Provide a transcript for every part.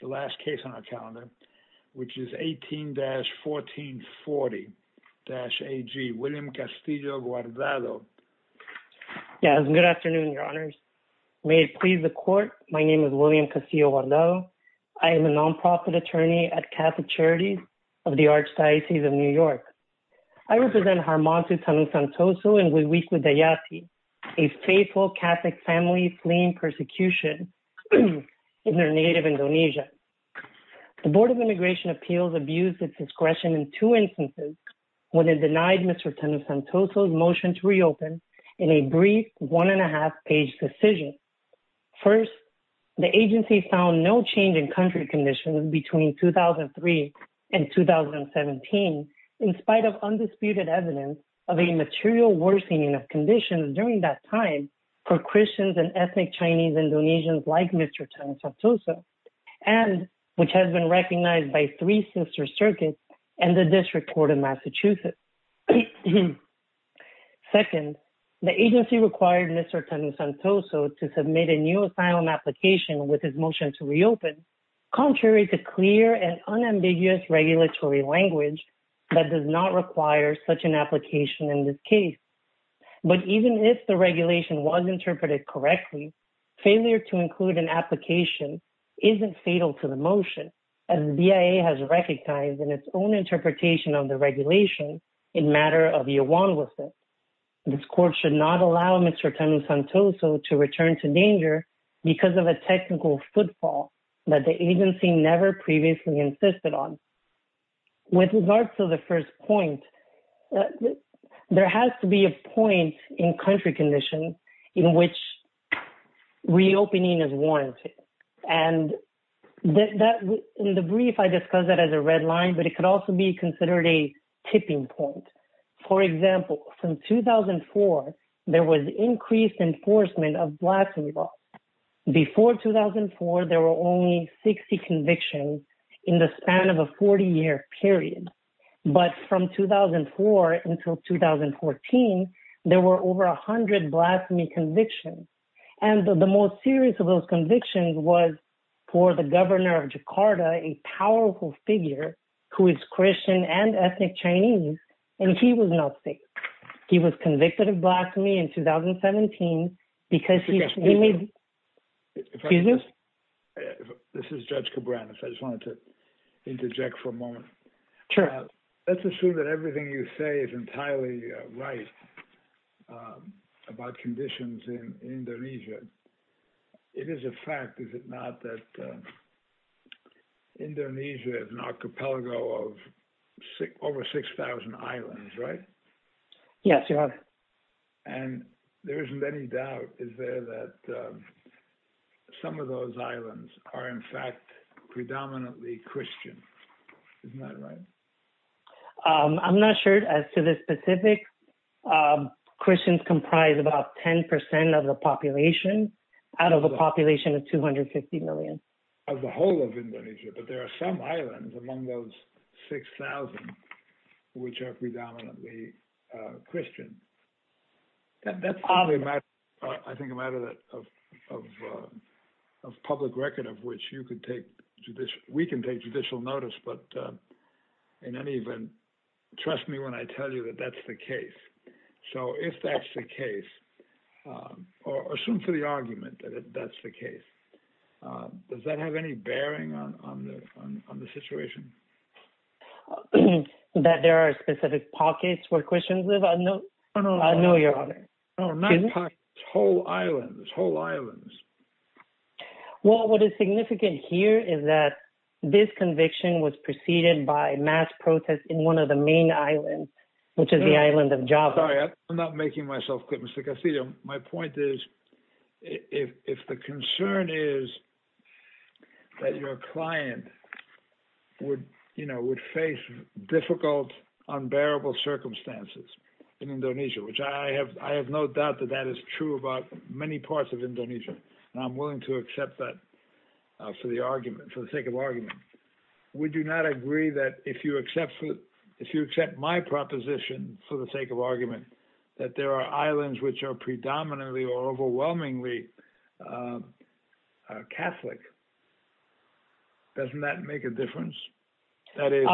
the last case on our calendar, which is 18-1440-AG, William Castillo Guardado. Yeah, good afternoon, your honors. May it please the court. My name is William Castillo Guardado. I am a nonprofit attorney at Catholic Charities of the Archdiocese of New York. I represent Armando Tanusantoso and Guadalupe Dayati, a faithful Catholic family fleeing persecution in their native Indonesia. The Board of Immigration Appeals abused its discretion in two instances when it denied Mr. Tanusantoso's motion to reopen in a brief one and a half page decision. First, the agency found no change in country conditions between 2003 and 2017, in spite of undisputed evidence of a material worsening of conditions during that time for Christians and ethnic Chinese Indonesians like Mr. Tanusantoso, and which has been recognized by three sister circuits and the District Court of Massachusetts. Second, the agency required Mr. Tanusantoso to submit a new asylum application with his motion to reopen, contrary to clear and unambiguous regulatory language that does not require such an application in this case. But even if the regulation was interpreted correctly, failure to include an application isn't fatal to the motion as the BIA has recognized in its own interpretation of the regulation in matter of your one with it. This court should not allow Mr. Tanusantoso to return to danger because of a technical footfall that the agency never previously insisted on. With regards to the first point, there has to be a point in country conditions in which reopening is warranted. And in the brief, I discussed that as a red line, but it could also be considered a tipping point. For example, from 2004, there was increased enforcement of black people. Before 2004, there were only 60 convictions in the span of a 40-year period. But from 2004 until 2014, there were over a hundred blasphemy convictions. And the most serious of those convictions was for the governor of Jakarta, a powerful figure who is Christian and ethnic Chinese, and he was not safe. He was convicted of blasphemy in 2017 because he- Excuse me. This is Judge Cabrera. I just wanted to interject for a moment. Sure. Let's assume that everything you say is entirely right about conditions in Indonesia. It is a fact, is it not, that Indonesia is an archipelago of over 6,000 islands, right? Yes, Your Honor. And there isn't any doubt, is there, that some of those islands are in fact predominantly Christian. Isn't that right? I'm not sure as to the specifics. Christians comprise about 10% of the population out of a population of 250 million. Of the whole of Indonesia, but there are some islands among those 6,000 which are predominantly Christian. That's probably a matter, I think, a matter of public record of which you could take, we can take judicial notice, but in any event, trust me when I tell you that that's the case. So if that's the case, or assume for the argument that that's the case, does that have any bearing on the situation? That there are specific pockets where Christians live? I know, I know, Your Honor. No, not pockets, whole islands, whole islands. Well, what is significant here is that this conviction was preceded by mass protest in one of the main islands, which is the island of Java. Sorry, I'm not making myself clear, Mr. Casillo. My point is, if the concern is that your client would face difficult, unbearable circumstances in Indonesia, which I have no doubt that that is true about many parts of Indonesia. And I'm willing to accept that for the argument, for the sake of argument. We do not agree that if you accept, if you accept my proposition for the sake of argument, that there are islands which are predominantly or overwhelmingly Catholic, doesn't that make a difference? That is,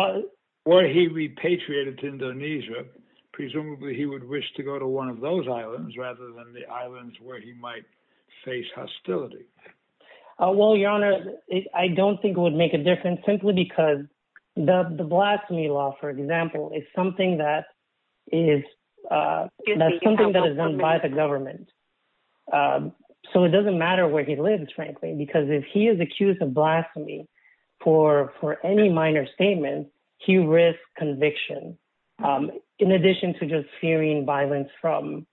were he repatriated to Indonesia, presumably he would wish to go to one of those islands rather than the islands where he might face hostility. Well, Your Honor, I don't think it would make a difference simply because the blasphemy law, for example, is something that is done by the government. So it doesn't matter where he lives, frankly, because if he is accused of blasphemy for any minor statement, he risks conviction, in addition to just fearing violence from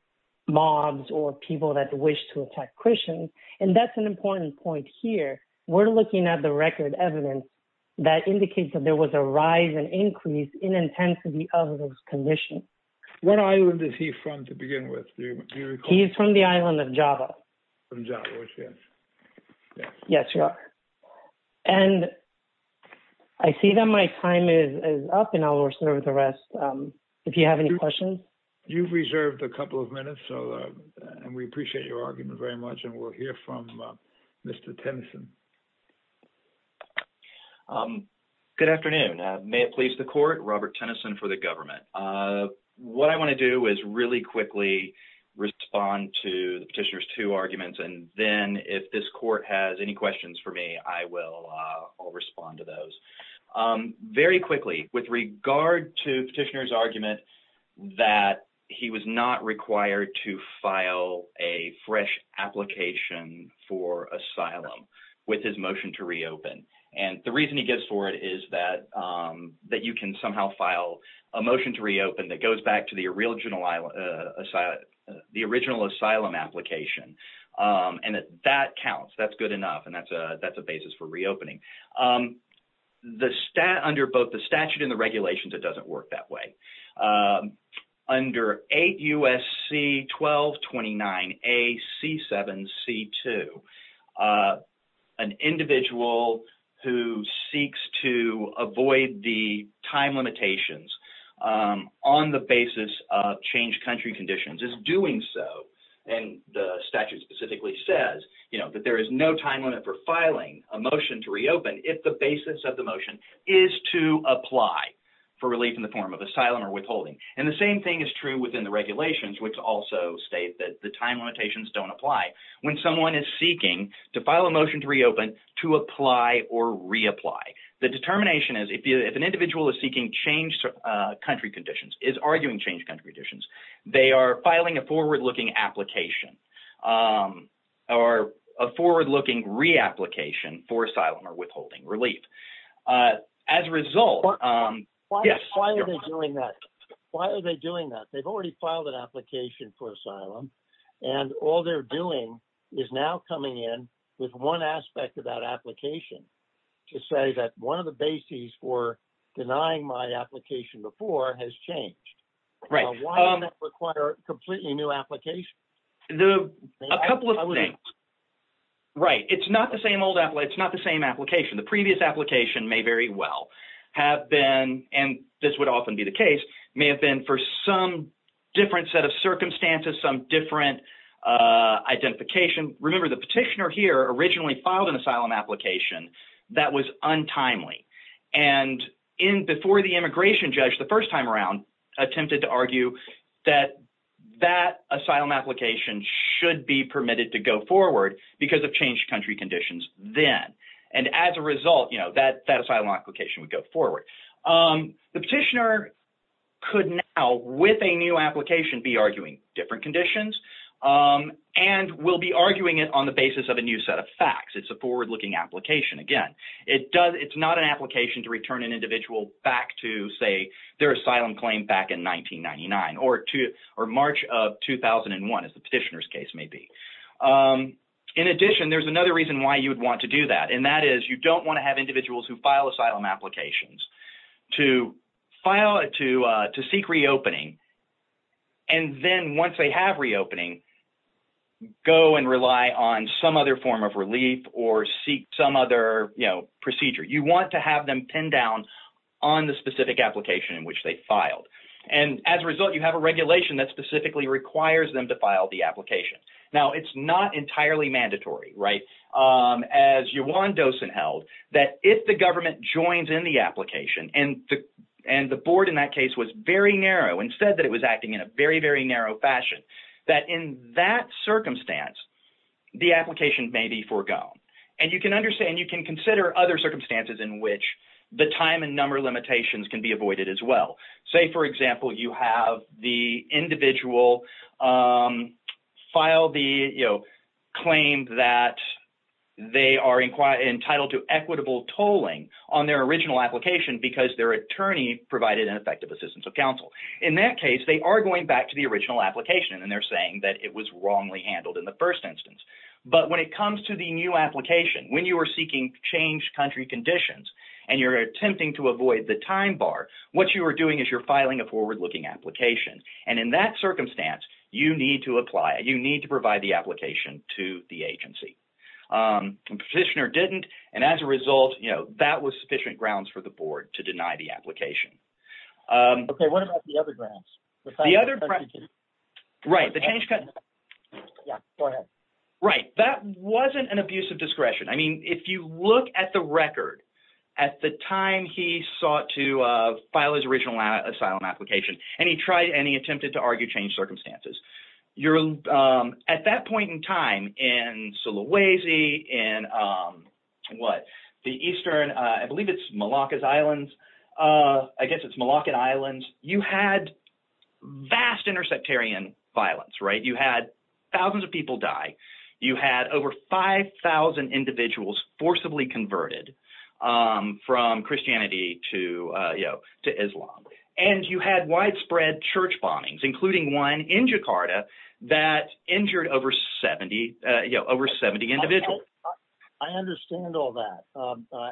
mobs or people that wish to attack Christians. And that's an important point here. We're looking at the record evidence that indicates that there was a rise and increase in intensity of those conditions. What island is he from to begin with? He's from the island of Java. From Java, yes. Yes, Your Honor. And I see that my time is up and I'll reserve the rest if you have any questions. You've reserved a couple of minutes, so we appreciate your argument very much and we'll hear from Mr. Tennyson. Good afternoon. May it please the court, Robert Tennyson for the government. What I wanna do is really quickly respond to the petitioner's two arguments and then if this court has any questions for me, I'll respond to those. Very quickly, with regard to petitioner's argument that he was not required to file a fresh application for asylum with his motion to reopen. And the reason he gets for it is that you can somehow file a motion to reopen that goes back to the original asylum application. And that counts, that's good enough and that's a basis for reopening. The statute and the regulations, it doesn't work that way. Under 8 U.S.C. 1229 A.C. 7 C.2, an individual who seeks to avoid the time limitations on the basis of changed country conditions is doing so. And the statute specifically says that there is no time limit for filing a motion to reopen if the basis of the motion is to apply for relief in the form of asylum or withholding. And the same thing is true within the regulations which also state that the time limitations don't apply when someone is seeking to file a motion to reopen to apply or reapply. The determination is if an individual is seeking changed country conditions, is arguing changed country conditions, they are filing a forward-looking application or a forward-looking reapplication for asylum or withholding relief. As a result, yes. Why are they doing that? Why are they doing that? They've already filed an application for asylum and all they're doing is now coming in with one aspect of that application to say that one of the bases for denying my application before has changed. Right. Why does that require completely new applications? The, a couple of things. Right, it's not the same old, it's not the same application. The previous application may very well have been, and this would often be the case, may have been for some different set of circumstances, some different identification. Remember the petitioner here originally filed an asylum application that was untimely. And in, before the immigration judge, the first time around attempted to argue that that asylum application should be permitted to go forward because of changed country conditions then. And as a result, you know, that asylum application would go forward. The petitioner could now with a new application be arguing different conditions and will be arguing it on the basis of a new set of facts. It's a forward-looking application. Again, it does, it's not an application to return an individual back to say their asylum claim back in 1999 or March of 2001, as the petitioner's case may be. In addition, there's another reason why you would want to do that. And that is you don't wanna have individuals who file asylum applications to file, to seek reopening. And then once they have reopening, go and rely on some other form of relief or seek some other, you know, procedure. You want to have them pin down on the specific application in which they filed. And as a result, you have a regulation that specifically requires them to file the application. Now, it's not entirely mandatory, right? As Juwan Dosen held, that if the government joins in the application and the board in that case was very narrow and said that it was acting in a very, very narrow fashion, that in that circumstance, the application may be foregone. And you can understand, you can consider other circumstances in which the time and number of limitations can be avoided as well. Say, for example, you have the individual file the, you know, claim that they are entitled to equitable tolling on their original application because their attorney provided an effective assistance of counsel. In that case, they are going back to the original application. And they're saying that it was wrongly handled in the first instance. But when it comes to the new application, when you are seeking changed country conditions and you're attempting to avoid the time bar, what you are doing is you're filing a forward-looking application. And in that circumstance, you need to apply, you need to provide the application to the agency. Petitioner didn't. And as a result, you know, that was sufficient grounds for the board to deny the application. Okay, what about the other grounds? The other grounds, right, the changed country. Yeah, go ahead. Right, that wasn't an abuse of discretion. I mean, if you look at the record, at the time he sought to file his original asylum application, and he tried, and he attempted to argue changed circumstances. You're, at that point in time, in Sulawesi, in what, the eastern, I believe it's Moluccas Islands. I guess it's Moluccan Islands. You had vast intersectarian violence, right? You had thousands of people die. You had over 5,000 individuals forcibly converted from Christianity to, you know, to Islam. And you had widespread church bombings, including one in Jakarta, that injured over 70, you know, over 70 individuals. I understand all that.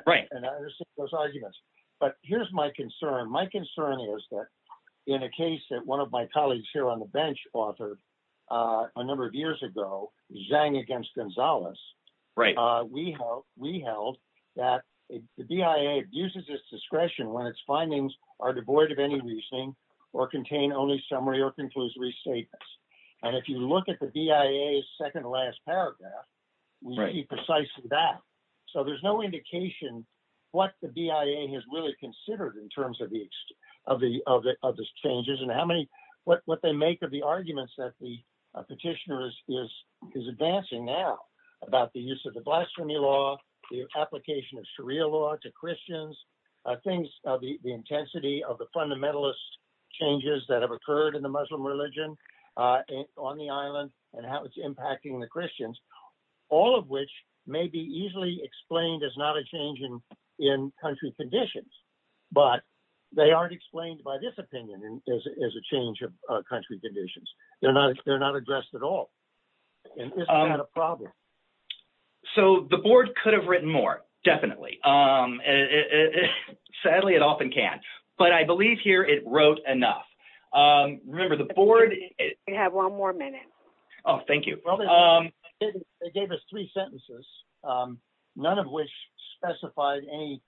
Right. And I understand those arguments. But here's my concern. My concern is that in a case that one of my colleagues here on the bench authored a number of years ago, Zhang against Gonzalez. Right. We held that the BIA abuses its discretion when its findings are devoid of any reasoning or contain only summary or conclusory statements. And if you look at the BIA's second to last paragraph, we see precisely that. So there's no indication what the BIA has really considered in terms of these changes and how many, what they make of the arguments that the petitioner is advancing now about the use of the blasphemy law, the application of Sharia law to Christians, things of the intensity of the fundamentalist changes that have occurred in the Muslim religion on the island and how it's impacting the Christians, all of which may be easily explained as not a change in country conditions, but they aren't explained by this opinion as a change of country conditions. They're not addressed at all. And this is not a problem. So the board could have written more, definitely. Sadly, it often can't, but I believe here it wrote enough. Remember the board- We have one more minute. Oh, thank you. They gave us three sentences, none of which specified any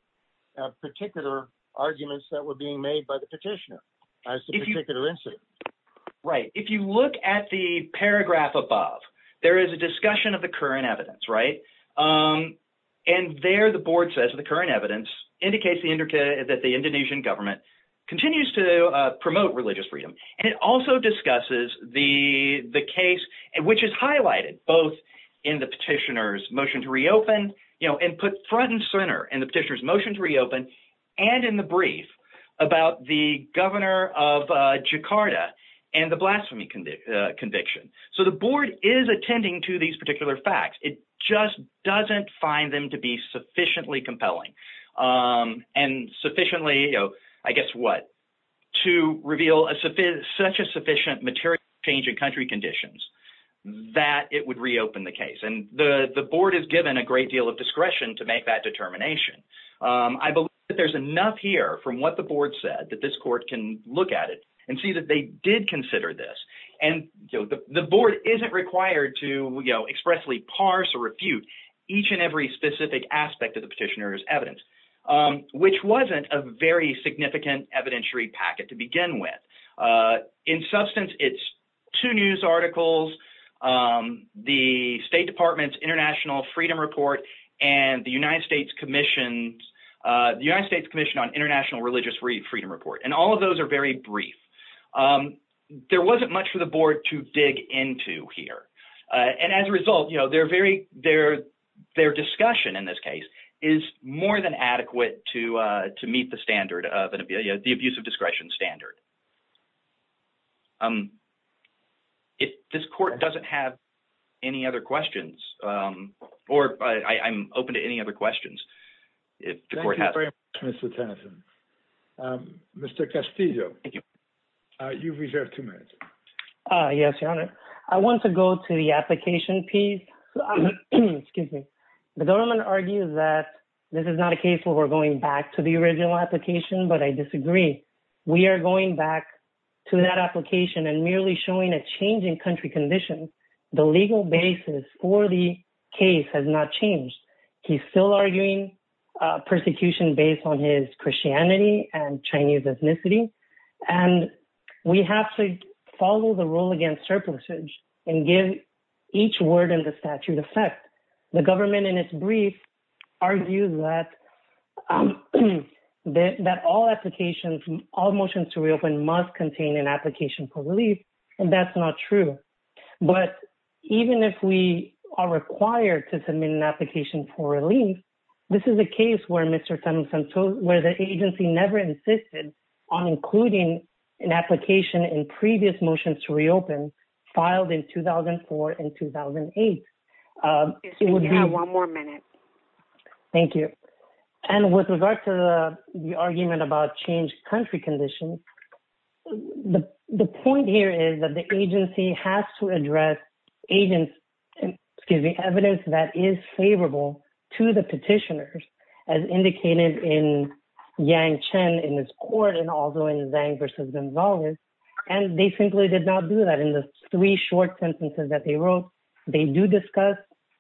particular arguments that were being made by the petitioner as the particular incident. Right, if you look at the paragraph above, there is a discussion of the current evidence, right? And there the board says the current evidence indicates that the Indonesian government continues to promote religious freedom. And it also discusses the case, which is highlighted both in the petitioner's motion to reopen and put front and center in the petitioner's motion to reopen and in the brief about the governor of Jakarta and the blasphemy conviction. So the board is attending to these particular facts. It just doesn't find them to be sufficiently compelling and sufficiently, I guess what, to reveal such a sufficient material change in country conditions that it would reopen the case. And the board is given a great deal of discretion to make that determination. I believe that there's enough here from what the board said that this court can look at it and see that they did consider this. And the board isn't required to expressly parse or refute each and every specific aspect of the petitioner's evidence, which wasn't a very significant evidentiary packet to begin with. In substance, it's two news articles, the State Department's International Freedom Report and the United States Commission on International Religious Freedom Report. And all of those are very brief. There wasn't much for the board to dig into here. And as a result, their discussion in this case is more than adequate to meet the standard of the abuse of discretion standard. This court doesn't have any other questions or I'm open to any other questions. If the court has- Thank you very much, Mr. Tennyson. Mr. Castillo, you've reserved two minutes. Yes, Your Honor. I want to go to the application piece. Excuse me. The government argues that this is not a case where we're going back to the original application, but I disagree. We are going back to that application and merely showing a change in country conditions, the legal basis for the case has not changed. He's still arguing persecution based on his Christianity and Chinese ethnicity. And we have to follow the rule against surplusage and give each word in the statute effect. The government in its brief argues that all applications, all motions to reopen must contain an application for relief and that's not true. But even if we are required to submit an application for relief, this is a case where Mr. Tennyson told, where the agency never insisted on including an application in previous motions to reopen filed in 2004 and 2008. It would be- You have one more minute. Thank you. And with regard to the argument about changed country conditions, the point here is that the agency has to address agents, excuse me, evidence that is favorable to the petitioners as indicated in Yang Chen in this court and also in Zhang versus Gonzalez. And they simply did not do that in the three short sentences that they wrote. They do discuss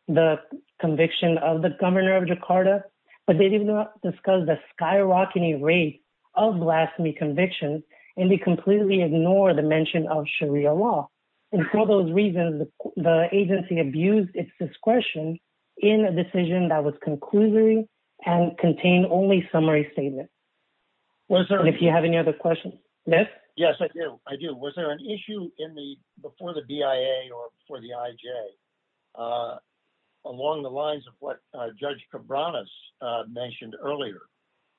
the conviction of the governor of Jakarta, but they did not discuss the skyrocketing rate of blasphemy convictions and they completely ignore the mention of Sharia law. And for those reasons, the agency abused its discretion in a decision that was concluding and contained only summary statement. If you have any other questions. Yes? Yes, I do. Was there an issue before the BIA or before the IJ along the lines of what Judge Cabranes mentioned earlier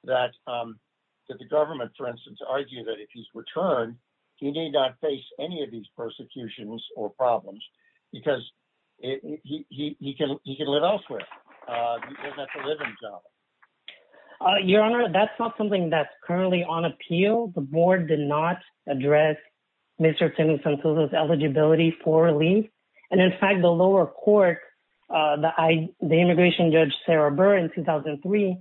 that the government, for instance, argued that if he's returned, he may not face any of these persecutions or problems because he can live elsewhere. He doesn't have to live in Java. Your Honor, that's not something that's currently on appeal. The board did not address Mr. Tim Sancilla's eligibility for relief. And in fact, the lower court, the immigration judge Sarah Burr in 2003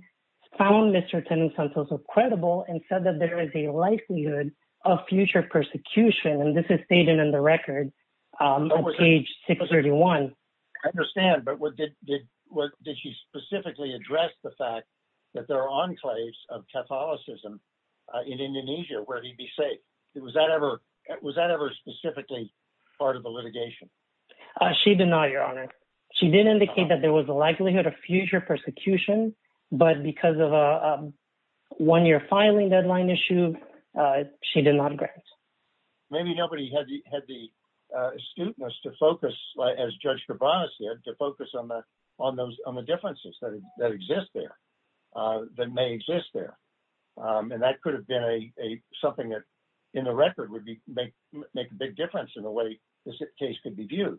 found Mr. Tim Sancilla credible and said that there is a likelihood of future persecution. And this is stated in the record on page 631. I understand, but did she specifically address the fact that there are enclaves of Catholicism in Indonesia where he'd be safe? Was that ever specifically part of the litigation? She did not, Your Honor. She did indicate that there was a likelihood of future persecution, but because of a one-year filing deadline issue, she did not grant. Maybe nobody had the astuteness to focus, as Judge Cabranes did, to focus on the differences that exist there, that may exist there. And that could have been something that in the record would make a big difference in the way this case could be viewed.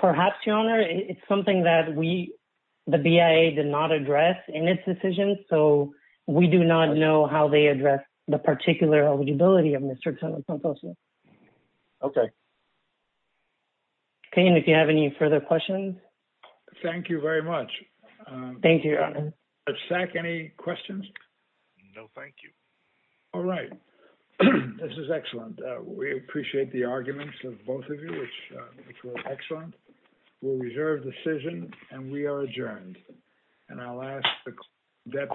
Perhaps, Your Honor, it's something that we, the BIA did not address in its decision, so we do not know how they addressed the particular eligibility of Mr. Tim Sancilla. Okay. Okay, and if you have any further questions. Thank you very much. Thank you, Your Honor. Judge Sack, any questions? No, thank you. All right. This is excellent. We appreciate the arguments of both of you, which were excellent. We'll reserve decision, and we are adjourned. And I'll ask the-